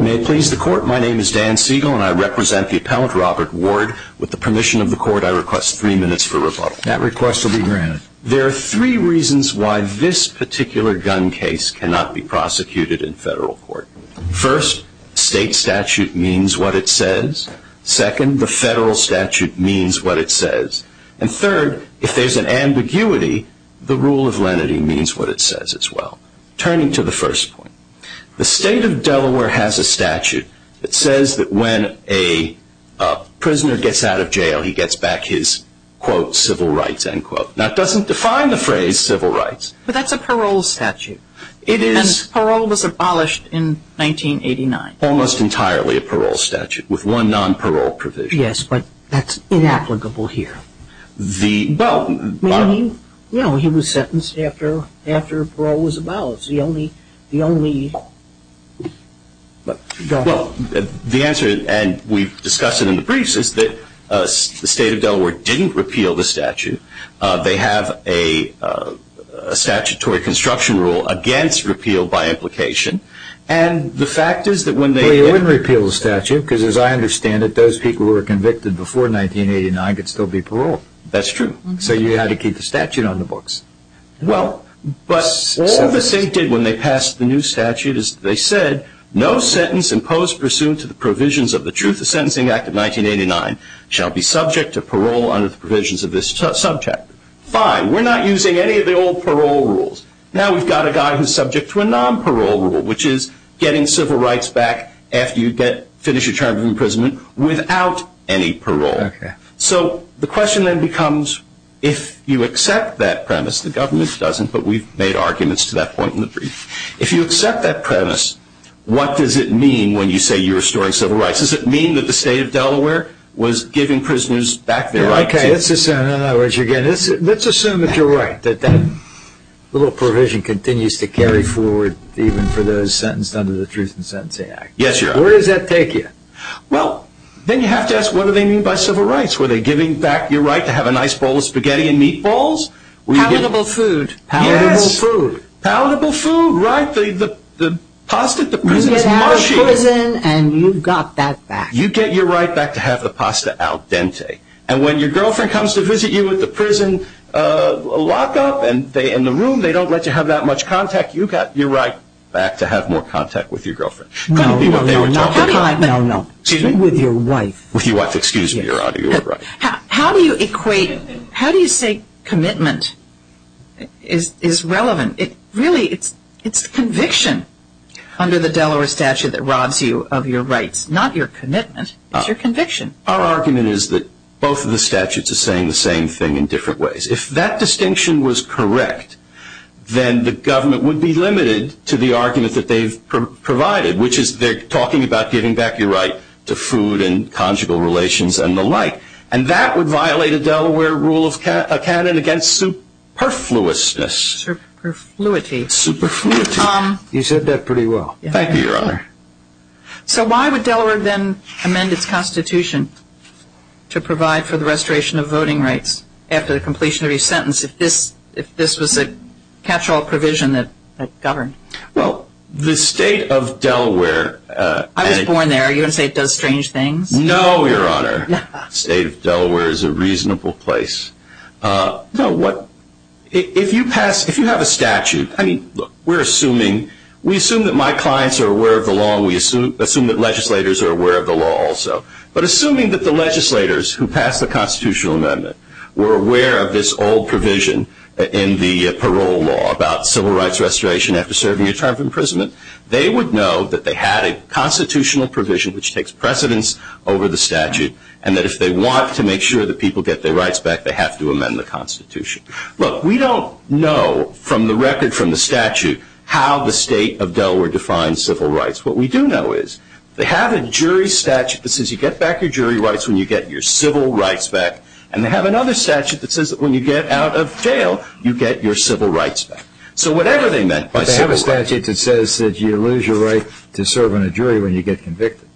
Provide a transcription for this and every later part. May it please the court, my name is Dan Siegel and I represent the appellant Robert Ward. With the permission of the court, I request three minutes for rebuttal. That request will be granted. There are three reasons why this particular gun case cannot be prosecuted in federal court. First, state statute means what it says. Second, the federal statute means what it says. And third, if there's an ambiguity, the rule of lenity means what it says as well. Turning to the first point, the state of Delaware has a statute that says that when a prisoner gets out of jail, he gets back his, quote, civil rights, end quote. That doesn't define the phrase civil rights. But that's a parole statute. It is. Parole was abolished in 1989. Almost entirely a parole statute with one non-parole provision. Yes, but that's inapplicable here. The. Well, I mean, you know, he was sentenced after after parole was abolished. The only the only. Well, the answer, and we've discussed it in the briefs, is that the state of Delaware didn't repeal the statute. They have a statutory construction rule against repeal by implication. And the fact is that when they repeal the statute, because as I understand it, those people who were convicted before 1989 could still be paroled. That's true. So you had to keep the statute on the books. Well, but the state did when they passed the new statute, as they said, no sentence imposed pursuant to the provisions of the truth. The Sentencing Act of 1989 shall be subject to parole under the provisions of this subject. Fine. We're not using any of the old parole rules. Now we've got a guy who's subject to a non-parole rule, which is getting civil rights back after you get finish a term of imprisonment without any parole. So the question then becomes, if you accept that premise, the government doesn't, but we've made arguments to that point in the brief. If you accept that premise, what does it mean when you say you're restoring civil rights? Does it mean that the state of Delaware was giving prisoners back their rights? Let's assume that you're right, that that little provision continues to carry forward even for those sentenced under the Truth in Sentencing Act. Yes, you're right. Where does that take you? Well, then you have to ask, what do they mean by civil rights? Were they giving back your right to have a nice bowl of spaghetti and meatballs? Palatable food, palatable food, palatable food. Right. The pasta at the prison is mushy. And you got that back. You get your right back to have the pasta al dente. And when your girlfriend comes to visit you at the prison lockup and they in the room, they don't let you have that much contact. You got your right back to have more contact with your girlfriend. No, no, no. Excuse me? With your wife. With your wife. Excuse me. You're right. How do you equate? How do you say commitment is relevant? Really, it's conviction under the Delaware statute that robs you of your rights. Not your commitment. It's your conviction. Our argument is that both of the statutes are saying the same thing in different ways. If that distinction was correct, then the government would be limited to the argument that they've provided. Which is they're talking about giving back your right to food and conjugal relations and the like. And that would violate a Delaware rule of canon against superfluousness. Superfluity. Superfluity. You said that pretty well. Thank you, Your Honor. So why would Delaware then amend its constitution to provide for the restoration of voting rights after the completion of each sentence if this was a catch-all provision that governed? Well, the state of Delaware... I was born there. Are you going to say it does strange things? No, Your Honor. State of Delaware is a reasonable place. No, what... If you pass... If you have a statute... I mean, look, we're assuming... We assume that my clients are aware of the law and we assume that legislators are aware of the law also. But assuming that the legislators who pass the constitutional amendment were aware of this old provision in the parole law about civil rights restoration after serving a term of imprisonment, they would know that they had a constitutional provision which takes precedence over the statute. And that if they want to make sure that people get their rights back, they have to amend the constitution. Look, we don't know from the record from the statute how the state of Delaware defines civil rights. What we do know is they have a jury statute that says you get back your jury rights when you get your civil rights back. And they have another statute that says that when you get out of jail, you get your civil rights back. So whatever they meant by civil rights... But they have a statute that says that you lose your right to serve on a jury when you get convicted.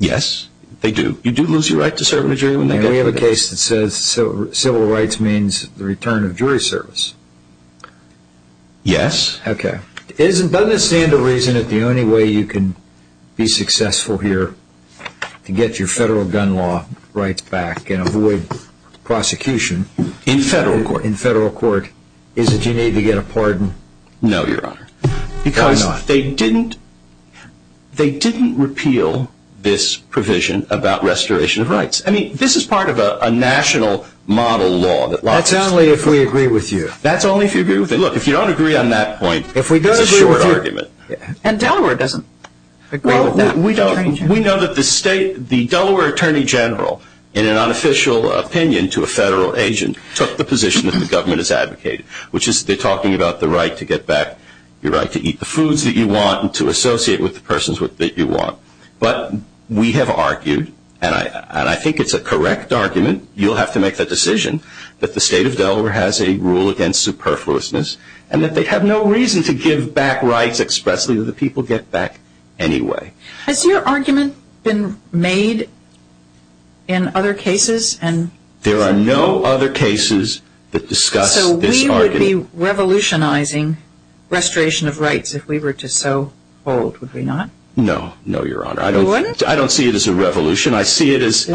Yes, they do. You do lose your right to serve on a jury when they get convicted. And we have a case that says civil rights means the return of jury service. Yes. Okay. Doesn't this stand to reason that the only way you can be successful here to get your federal gun law rights back and avoid prosecution... In federal court. ...in federal court is that you need to get a pardon? No, Your Honor. Because they didn't repeal this provision about restoration of rights. I mean, this is part of a national model law that... That's only if we agree with you. That's only if you agree with me. Look, if you don't agree on that point... It's a short argument. And Delaware doesn't agree with that. We know that the Delaware Attorney General, in an unofficial opinion to a federal agent, took the position that the government has advocated, which is they're talking about the right to get back your right to eat the foods that you want and to associate with the persons that you want. But we have argued, and I think it's a correct argument, you'll have to make the decision that the state of Delaware has a rule against superfluousness and that they have no reason to give back rights expressly that the people get back anyway. Has your argument been made in other cases? There are no other cases that discuss this argument. So we would be revolutionizing restoration of rights if we were to so hold, would we not? No, no, Your Honor. You wouldn't? I don't see it as a revolution. I see it as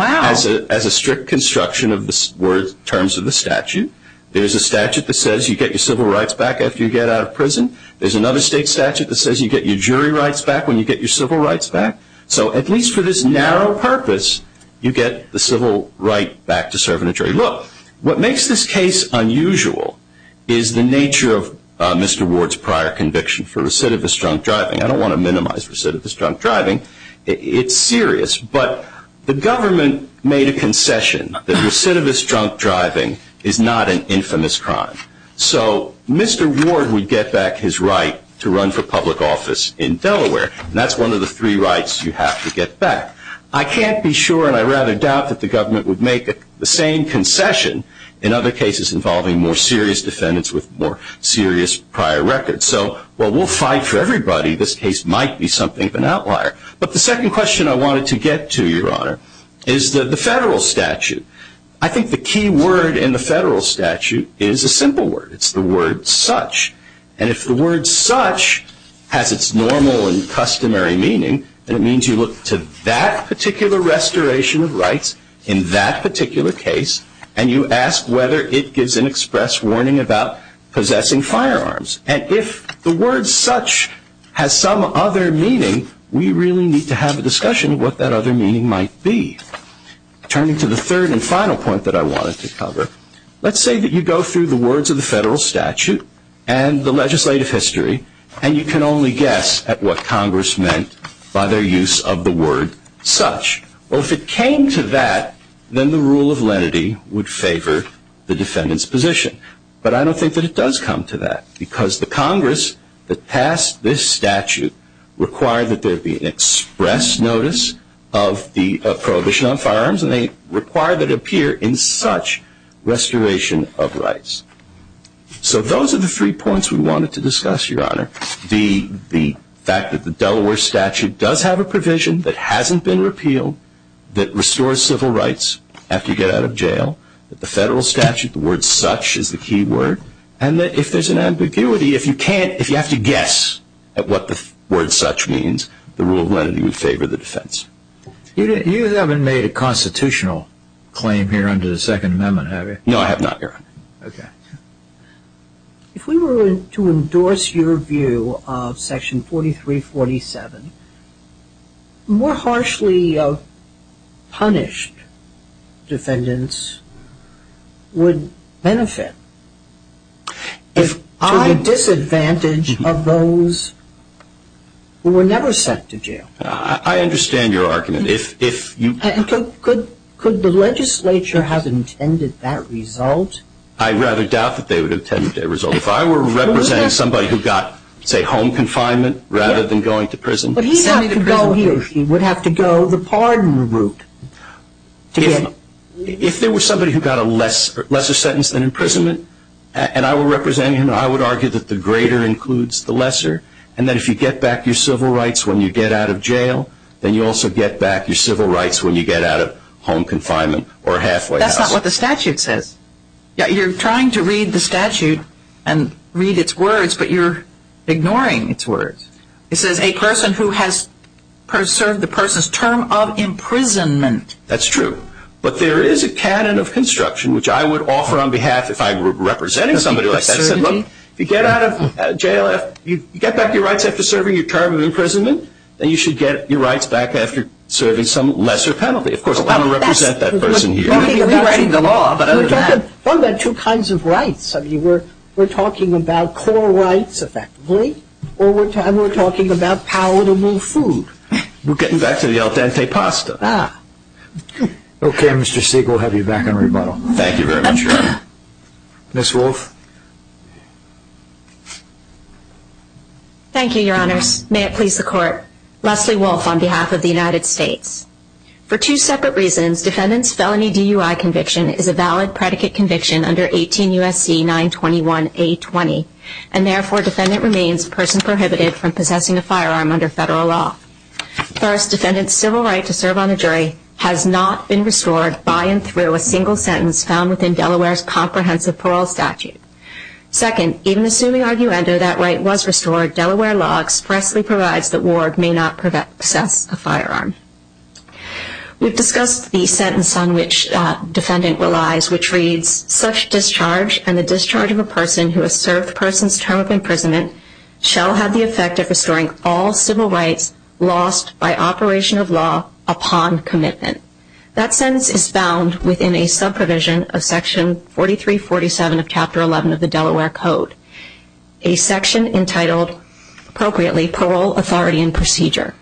a strict construction of the terms of the statute. There's a statute that says you get your civil rights back after you get out of prison. There's another state statute that says you get your jury rights back when you get your civil rights back. So at least for this narrow purpose, you get the civil right back to serve in a jury. Look, what makes this case unusual is the nature of Mr. Ward's prior conviction for recidivist drunk driving. I don't want to minimize recidivist drunk driving. It's serious. But the government made a concession that recidivist drunk driving is not an infamous crime. So Mr. Ward would get back his right to run for public office in Delaware, and that's one of the three rights you have to get back. I can't be sure, and I rather doubt, that the government would make the same concession in other cases involving more serious defendants with more serious prior records. So while we'll fight for everybody, this case might be something of an outlier. But the second question I wanted to get to, Your Honor, is the federal statute. I think the key word in the federal statute is a simple word. It's the word such. And if the word such has its normal and customary meaning, then it means you look to that particular restoration of rights in that particular case, and you ask whether it gives an express warning about possessing firearms. And if the word such has some other meaning, we really need to have a discussion of what that other meaning might be. Turning to the third and final point that I wanted to cover, let's say that you go through the words of the federal statute and the legislative history, and you can only guess at what Congress meant by their use of the word such. Well, if it came to that, then the rule of lenity would favor the defendant's position. But I don't think that it does come to that, because the Congress that passed this statute required that there be an express notice of the prohibition on firearms, and they require that it appear in such restoration of rights. So those are the three points we wanted to discuss, Your Honor. The fact that the Delaware statute does have a provision that hasn't been repealed, that the federal statute, the word such is the key word, and that if there's an ambiguity, if you have to guess at what the word such means, the rule of lenity would favor the defense. You haven't made a constitutional claim here under the Second Amendment, have you? No, I have not, Your Honor. Okay. If we were to endorse your view of Section 4347, more harshly punished defendants would benefit to the disadvantage of those who were never sent to jail. I understand your argument. Could the legislature have intended that result? I rather doubt that they would have intended that result. If I were representing somebody who got, say, home confinement rather than going to prison. But he would have to go the pardon route. If there was somebody who got a lesser sentence than imprisonment, and I were representing him, I would argue that the greater includes the lesser, and that if you get back your civil rights when you get out of jail, then you also get back your civil rights when you get out of home confinement or halfway house. That's not what the statute says. You're trying to read the statute and read its words, but you're ignoring its words. It says a person who has served the person's term of imprisonment. That's true. But there is a canon of construction which I would offer on behalf if I were representing somebody like that. If you get out of jail, if you get back your rights after serving your term of imprisonment, then you should get your rights back after serving some lesser penalty. Of course, I don't represent that person here. We're talking about two kinds of rights. We're talking about core rights, effectively, and we're talking about palatable food. We're getting back to the al dente pasta. Ah. Okay, Mr. Siegel, we'll have you back on rebuttal. Thank you very much, Your Honor. Ms. Wolfe. Thank you, Your Honors. May it please the Court. Leslie Wolfe on behalf of the United States. For two separate reasons, defendant's felony DUI conviction is a valid predicate conviction under 18 U.S.C. 921-A20, and therefore defendant remains a person prohibited from possessing a firearm under federal law. First, defendant's civil right to serve on a jury has not been restored by and through a single sentence found within Delaware's comprehensive parole statute. Second, even assuming arguendo that right was restored, Delaware law expressly provides that ward may not possess a firearm. We've discussed the sentence on which defendant relies, which reads, such discharge and the discharge of a person who has served the person's term of imprisonment shall have the effect of restoring all civil rights lost by operation of law upon commitment. That sentence is found within a subprovision of Section 4347 of Chapter 11 of the Delaware Code, a section entitled appropriately Parole, Authority, and Procedure.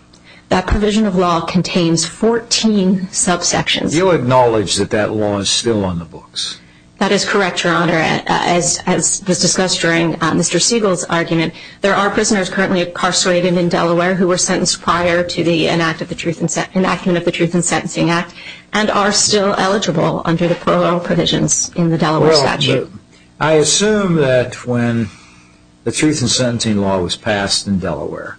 That provision of law contains 14 subsections. Do you acknowledge that that law is still on the books? That is correct, Your Honor. As was discussed during Mr. Siegel's argument, there are prisoners currently incarcerated in Delaware who were sentenced prior to the enactment of the Truth in Sentencing Act and are still eligible under the parole provisions in the Delaware statute. I assume that when the Truth in Sentencing Law was passed in Delaware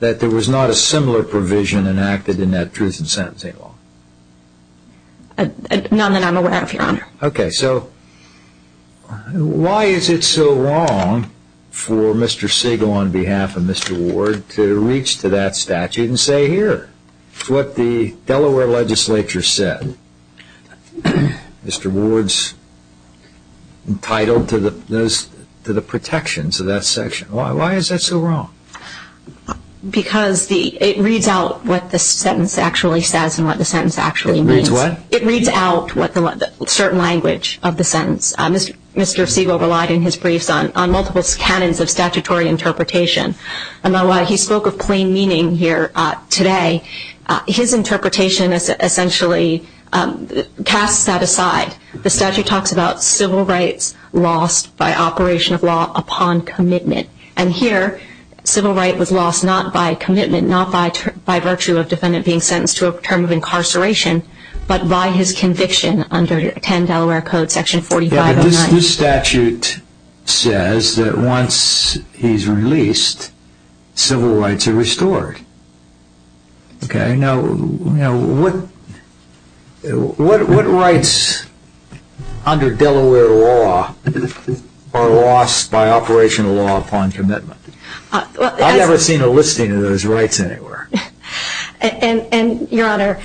that there was not a similar provision enacted in that Truth in Sentencing Law. None that I'm aware of, Your Honor. Okay, so why is it so wrong for Mr. Siegel on behalf of Mr. Ward to reach to that statute and say, It's what the Delaware legislature said. Mr. Ward's entitled to the protections of that section. Why is that so wrong? Because it reads out what the sentence actually says and what the sentence actually means. It reads what? It reads out a certain language of the sentence. Mr. Siegel relied in his briefs on multiple canons of statutory interpretation. And while he spoke of plain meaning here today, his interpretation essentially casts that aside. The statute talks about civil rights lost by operation of law upon commitment. And here, civil right was lost not by commitment, not by virtue of a defendant being sentenced to a term of incarceration, but by his conviction under 10 Delaware Code, Section 4509. This statute says that once he's released, civil rights are restored. Okay, now what rights under Delaware law are lost by operation of law upon commitment? I've never seen a listing of those rights anywhere. And, Your Honor,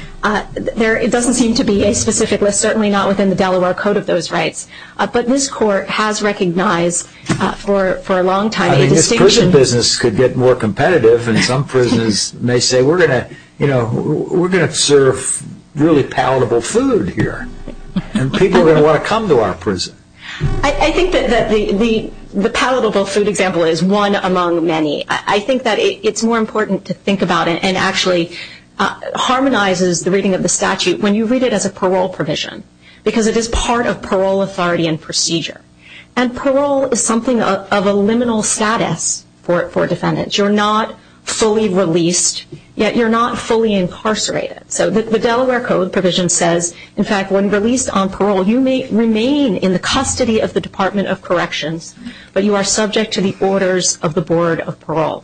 there doesn't seem to be a specific list, certainly not within the Delaware Code of those rights. But this Court has recognized for a long time a distinction. I mean, this prison business could get more competitive, and some prisoners may say we're going to serve really palatable food here. And people are going to want to come to our prison. I think that the palatable food example is one among many. I think that it's more important to think about it and actually harmonizes the reading of the statute when you read it as a parole provision because it is part of parole authority and procedure. And parole is something of a liminal status for defendants. You're not fully released, yet you're not fully incarcerated. So the Delaware Code provision says, in fact, when released on parole, you may remain in the custody of the Department of Corrections, but you are subject to the orders of the Board of Parole.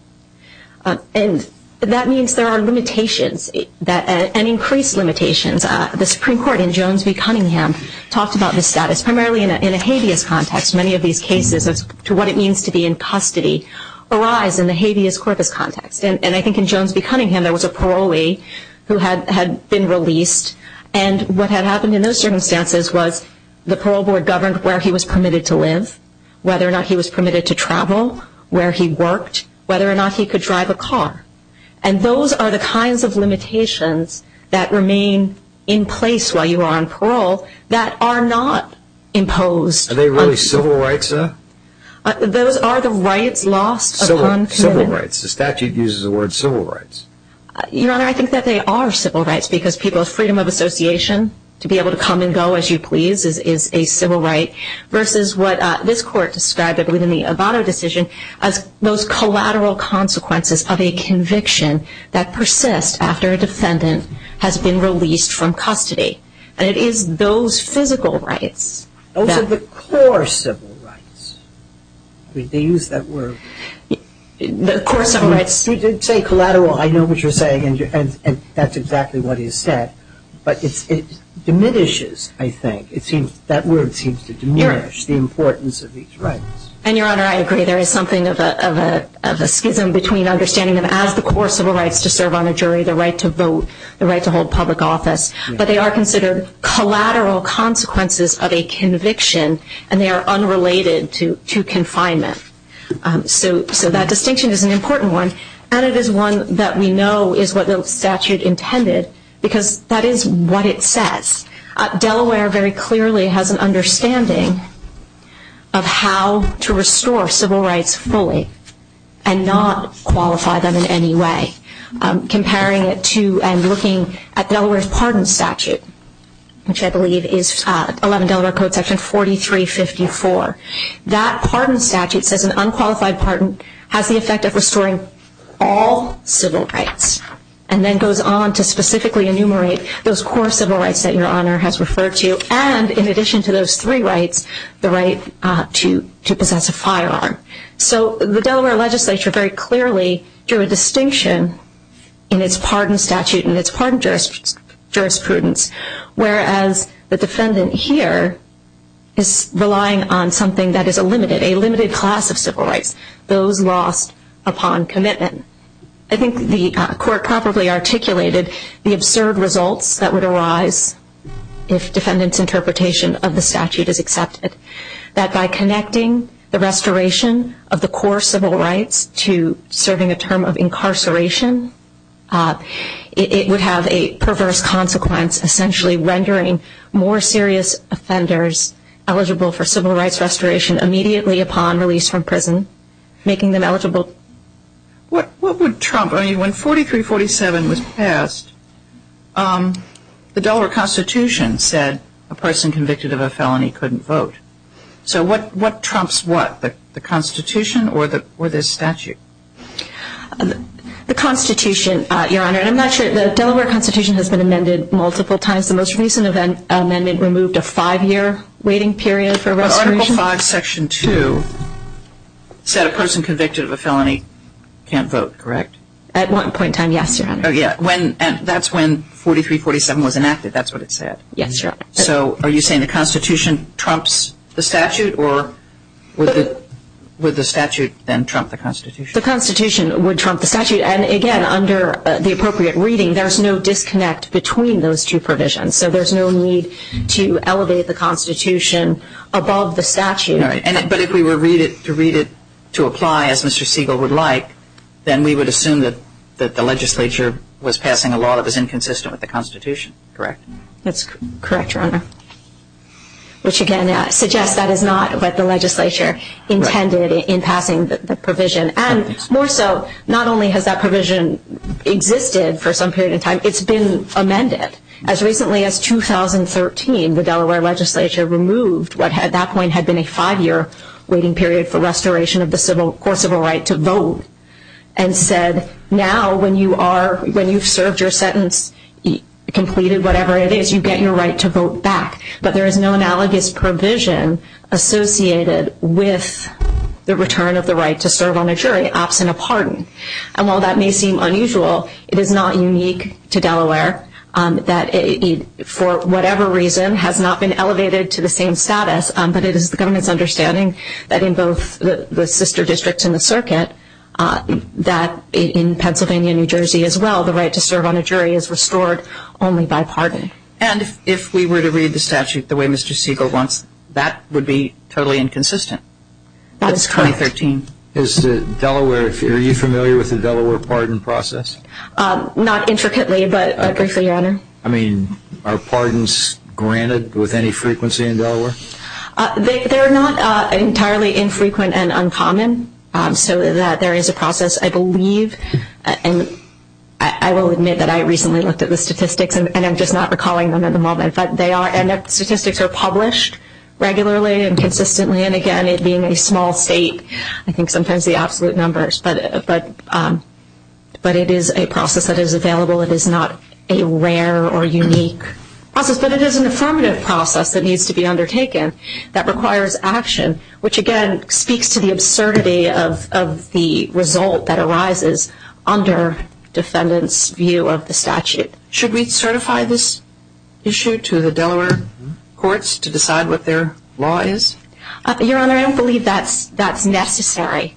And that means there are limitations and increased limitations. The Supreme Court in Jones v. Cunningham talked about this status primarily in a habeas context. Many of these cases as to what it means to be in custody arise in the habeas corpus context. And I think in Jones v. Cunningham there was a parolee who had been released, and what had happened in those circumstances was the parole board governed where he was permitted to live, whether or not he was permitted to travel, where he worked, whether or not he could drive a car. And those are the kinds of limitations that remain in place while you are on parole that are not imposed. Are they really civil rights, though? Those are the rights lost upon commitment. Civil rights. The statute uses the word civil rights. Your Honor, I think that they are civil rights because people's freedom of association, to be able to come and go as you please, is a civil right, versus what this Court described within the Avado decision as those collateral consequences of a conviction that persists after a defendant has been released from custody. And it is those physical rights. Those are the core civil rights. They use that word. The core civil rights. You did say collateral. I know what you're saying, and that's exactly what he said. But it diminishes, I think. That word seems to diminish the importance of these rights. And, Your Honor, I agree. There is something of a schism between understanding them as the core civil rights to serve on a jury, the right to vote, the right to hold public office. But they are considered collateral consequences of a conviction, and they are unrelated to confinement. So that distinction is an important one, and it is one that we know is what the statute intended, because that is what it says. Delaware very clearly has an understanding of how to restore civil rights fully and not qualify them in any way. Comparing it to and looking at Delaware's pardon statute, which I believe is 11 Delaware Code Section 4354, that pardon statute says an unqualified pardon has the effect of restoring all civil rights and then goes on to specifically enumerate those core civil rights that Your Honor has referred to and, in addition to those three rights, the right to possess a firearm. So the Delaware legislature very clearly drew a distinction in its pardon statute and its pardon jurisprudence, whereas the defendant here is relying on something that is a limited, a limited class of civil rights, those lost upon commitment. I think the court properly articulated the absurd results that would arise if defendant's interpretation of the statute is accepted, that by connecting the restoration of the core civil rights to serving a term of incarceration, it would have a perverse consequence, essentially rendering more serious offenders eligible for civil rights restoration immediately upon release from prison, making them eligible. What would trump? I mean, when 4347 was passed, the Delaware Constitution said a person convicted of a felony couldn't vote. So what trumps what? The Constitution or this statute? The Constitution, Your Honor, and I'm not sure. The Delaware Constitution has been amended multiple times. Article 5, Section 2 said a person convicted of a felony can't vote, correct? At one point in time, yes, Your Honor. That's when 4347 was enacted, that's what it said? Yes, Your Honor. So are you saying the Constitution trumps the statute, or would the statute then trump the Constitution? The Constitution would trump the statute, and, again, under the appropriate reading, there's no disconnect between those two provisions. So there's no need to elevate the Constitution above the statute. But if we were to read it to apply as Mr. Siegel would like, then we would assume that the legislature was passing a law that was inconsistent with the Constitution, correct? That's correct, Your Honor, which, again, suggests that is not what the legislature intended in passing the provision. And more so, not only has that provision existed for some period of time, it's been amended. As recently as 2013, the Delaware legislature removed what, at that point, had been a five-year waiting period for restoration of the civil right to vote, and said now when you've served your sentence, completed whatever it is, you get your right to vote back. But there is no analogous provision associated with the return of the right to serve on a jury absent a pardon. And while that may seem unusual, it is not unique to Delaware that, for whatever reason, has not been elevated to the same status. But it is the government's understanding that in both the sister districts in the circuit, that in Pennsylvania and New Jersey as well, the right to serve on a jury is restored only by pardon. And if we were to read the statute the way Mr. Siegel wants, that would be totally inconsistent. That is correct. That's 2013. Is Delaware, are you familiar with the Delaware pardon process? Not intricately, but briefly, Your Honor. I mean, are pardons granted with any frequency in Delaware? They're not entirely infrequent and uncommon. So there is a process, I believe, and I will admit that I recently looked at the statistics, and I'm just not recalling them at the moment. But they are, and the statistics are published regularly and consistently. And again, it being a small state, I think sometimes the absolute numbers. But it is a process that is available. It is not a rare or unique process. But it is an affirmative process that needs to be undertaken that requires action, which again speaks to the absurdity of the result that arises under defendants' view of the statute. Should we certify this issue to the Delaware courts to decide what their law is? Your Honor, I don't believe that's necessary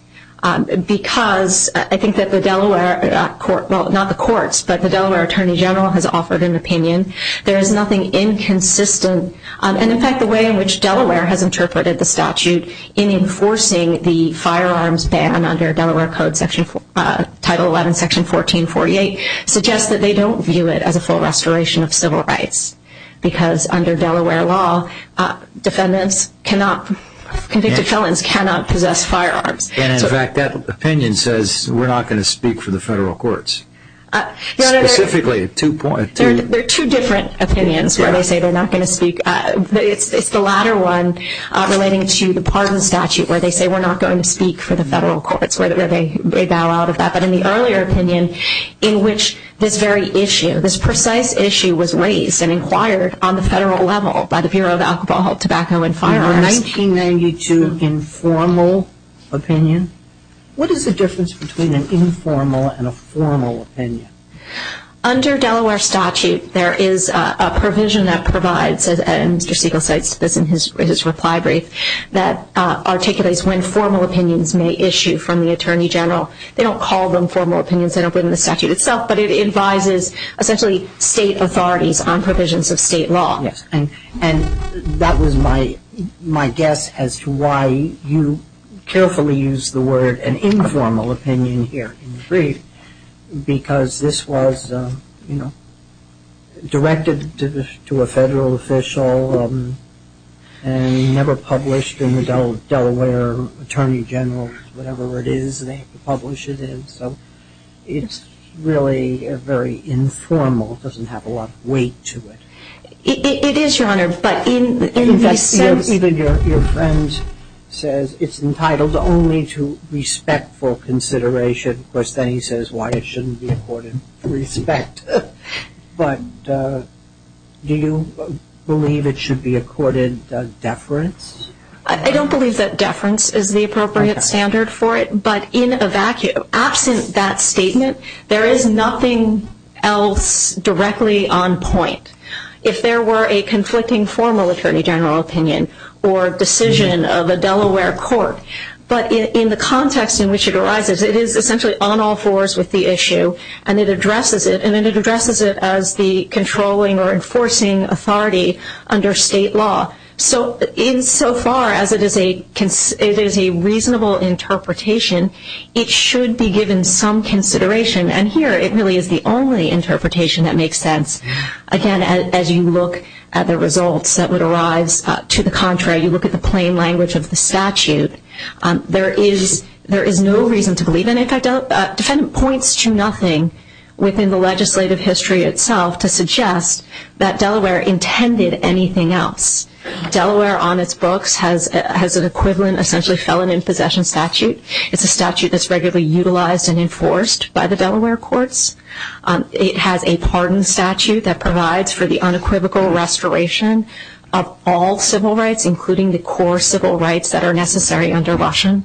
because I think that the Delaware court, well, not the courts, but the Delaware Attorney General has offered an opinion. There is nothing inconsistent. And in fact, the way in which Delaware has interpreted the statute in enforcing the firearms ban under Delaware Code, Title 11, Section 1448, suggests that they don't view it as a full restoration of civil rights because under Delaware law, defendants cannot, convicted felons cannot possess firearms. And in fact, that opinion says we're not going to speak for the federal courts. Specifically, two points. There are two different opinions where they say they're not going to speak. It's the latter one relating to the part of the statute where they say we're not going to speak for the federal courts, where they bow out of that. But in the earlier opinion in which this very issue, this precise issue was raised and inquired on the federal level by the Bureau of Alcohol, Tobacco, and Firearms. Your Honor, 1992 informal opinion. What is the difference between an informal and a formal opinion? Under Delaware statute, there is a provision that provides, and Mr. Siegel cites this in his reply brief, that articulates when formal opinions may issue from the Attorney General. They don't call them formal opinions, they don't put them in the statute itself, but it advises essentially state authorities on provisions of state law. Yes. And that was my guess as to why you carefully used the word an informal opinion here in the brief because this was, you know, directed to a federal official and never published in the Delaware Attorney General, whatever it is they publish it in. So it's really very informal. It doesn't have a lot of weight to it. It is, Your Honor, but in the sense... In fact, even your friend says it's entitled only to respectful consideration. Of course, then he says why it shouldn't be accorded respect. But do you believe it should be accorded deference? I don't believe that deference is the appropriate standard for it, but in a vacuum, absent that statement, there is nothing else directly on point. If there were a conflicting formal Attorney General opinion or decision of a Delaware court, but in the context in which it arises, it is essentially on all fours with the issue and it addresses it as the controlling or enforcing authority under state law. So insofar as it is a reasonable interpretation, it should be given some consideration, and here it really is the only interpretation that makes sense. Again, as you look at the results that would arise to the contrary, you look at the plain language of the statute, there is no reason to believe it. In fact, defendant points to nothing within the legislative history itself to suggest that Delaware intended anything else. Delaware on its books has an equivalent essentially felon in possession statute. It's a statute that's regularly utilized and enforced by the Delaware courts. It has a pardon statute that provides for the unequivocal restoration of all civil rights, including the core civil rights that are necessary under Washington,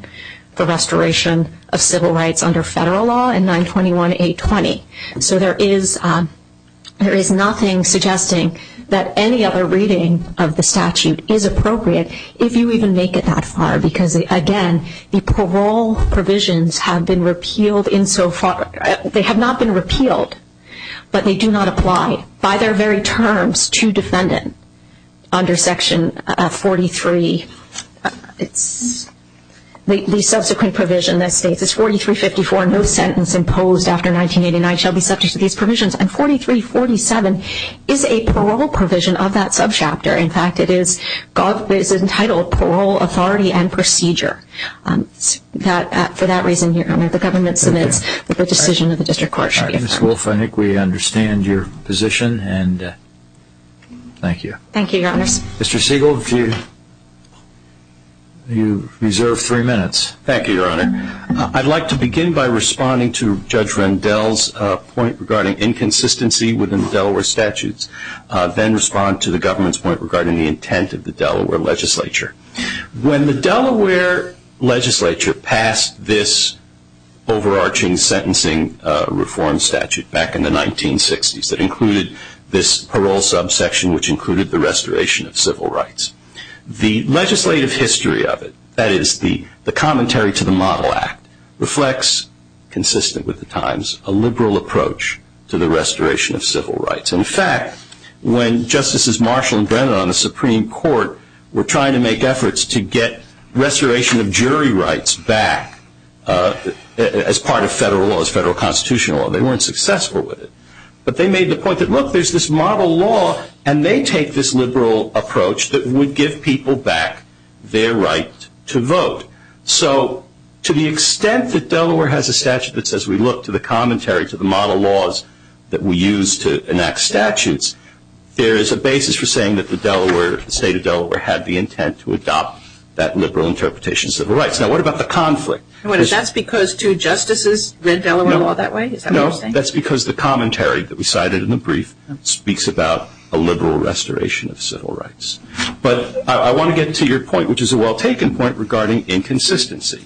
the restoration of civil rights under federal law in 921-820. So there is nothing suggesting that any other reading of the statute is appropriate, if you even make it that far, because again, the parole provisions have been repealed insofar. They have not been repealed, but they do not apply. By their very terms, two defendants under Section 43, the subsequent provision that states it's 4354, no sentence imposed after 1989 shall be subject to these provisions, and 4347 is a parole provision of that subchapter. In fact, it is entitled Parole, Authority, and Procedure. For that reason, the government submits that the decision of the district court should be affirmed. Mr. Wolf, I think we understand your position, and thank you. Thank you, Your Honors. Mr. Siegel, you reserve three minutes. Thank you, Your Honor. I'd like to begin by responding to Judge Rendell's point regarding inconsistency within the Delaware statutes, then respond to the government's point regarding the intent of the Delaware legislature. When the Delaware legislature passed this overarching sentencing reform statute back in the 1960s that included this parole subsection, which included the restoration of civil rights, the legislative history of it, that is, the commentary to the Model Act, reflects, consistent with the times, a liberal approach to the restoration of civil rights. In fact, when Justices Marshall and Brennan on the Supreme Court were trying to make efforts to get restoration of jury rights back as part of federal laws, federal constitutional law, they weren't successful with it. But they made the point that, look, there's this model law, and they take this liberal approach that would give people back their right to vote. So to the extent that Delaware has a statute that says we look to the commentary, to the model laws that we use to enact statutes, there is a basis for saying that the Delaware, the state of Delaware, had the intent to adopt that liberal interpretation of civil rights. Now, what about the conflict? That's because two justices read Delaware law that way? No, that's because the commentary that we cited in the brief speaks about a liberal restoration of civil rights. But I want to get to your point, which is a well-taken point regarding inconsistency.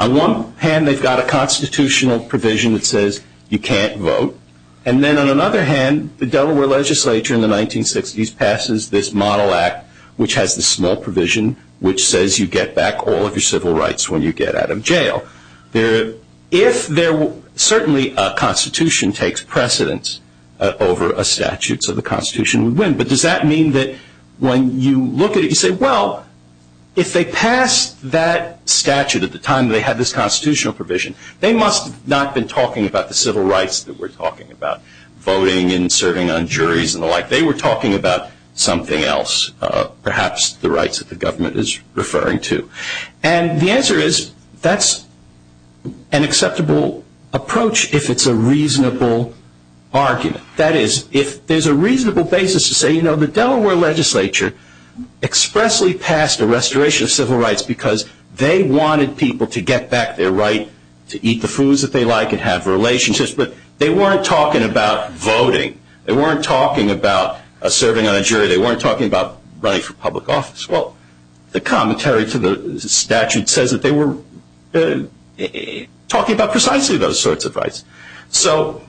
On one hand, they've got a constitutional provision that says you can't vote. And then on another hand, the Delaware legislature in the 1960s passes this model act, which has this small provision, which says you get back all of your civil rights when you get out of jail. Certainly a constitution takes precedence over a statute, so the constitution would win. But does that mean that when you look at it, you say, well, if they passed that statute at the time they had this constitutional provision, they must not have been talking about the civil rights that we're talking about, voting and serving on juries and the like. They were talking about something else, perhaps the rights that the government is referring to. And the answer is that's an acceptable approach if it's a reasonable argument. That is, if there's a reasonable basis to say, you know, the Delaware legislature expressly passed a restoration of civil rights because they wanted people to get back their right to eat the foods that they like and have relationships, but they weren't talking about voting. They weren't talking about serving on a jury. They weren't talking about running for public office. Well, the commentary to the statute says that they were talking about precisely those sorts of rights. So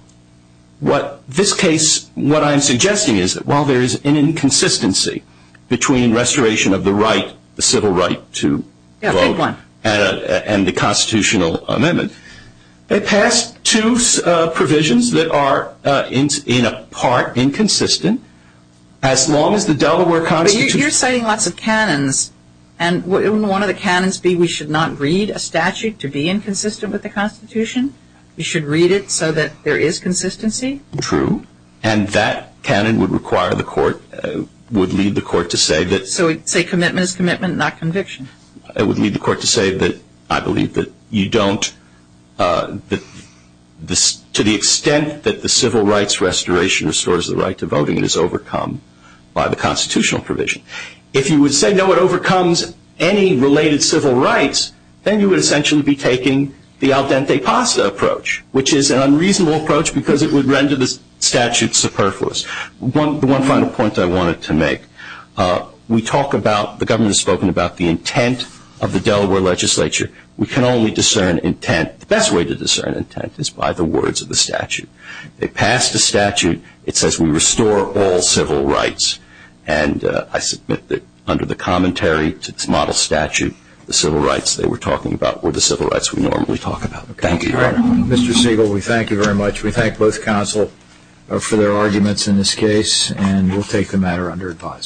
what this case, what I'm suggesting is that while there is an inconsistency between restoration of the right, the civil right to vote and the constitutional amendment, they passed two provisions that are in a part inconsistent as long as the Delaware constitution. But you're citing lots of canons. And wouldn't one of the canons be we should not read a statute to be inconsistent with the constitution? We should read it so that there is consistency? True. And that canon would require the court, would lead the court to say that. So say commitment is commitment, not conviction. It would lead the court to say that I believe that you don't, to the extent that the civil rights restoration restores the right to voting, it is overcome by the constitutional provision. If you would say, no, it overcomes any related civil rights, then you would essentially be taking the al dente pasta approach, which is an unreasonable approach because it would render the statute superfluous. The one final point I wanted to make, we talk about, the government has spoken about the intent of the Delaware legislature. We can only discern intent. The best way to discern intent is by the words of the statute. They passed a statute. It says we restore all civil rights. And I submit that under the commentary to this model statute, the civil rights they were talking about were the civil rights we normally talk about. Thank you. Mr. Siegel, we thank you very much. We thank both counsel for their arguments in this case, and we'll take the matter under advisement.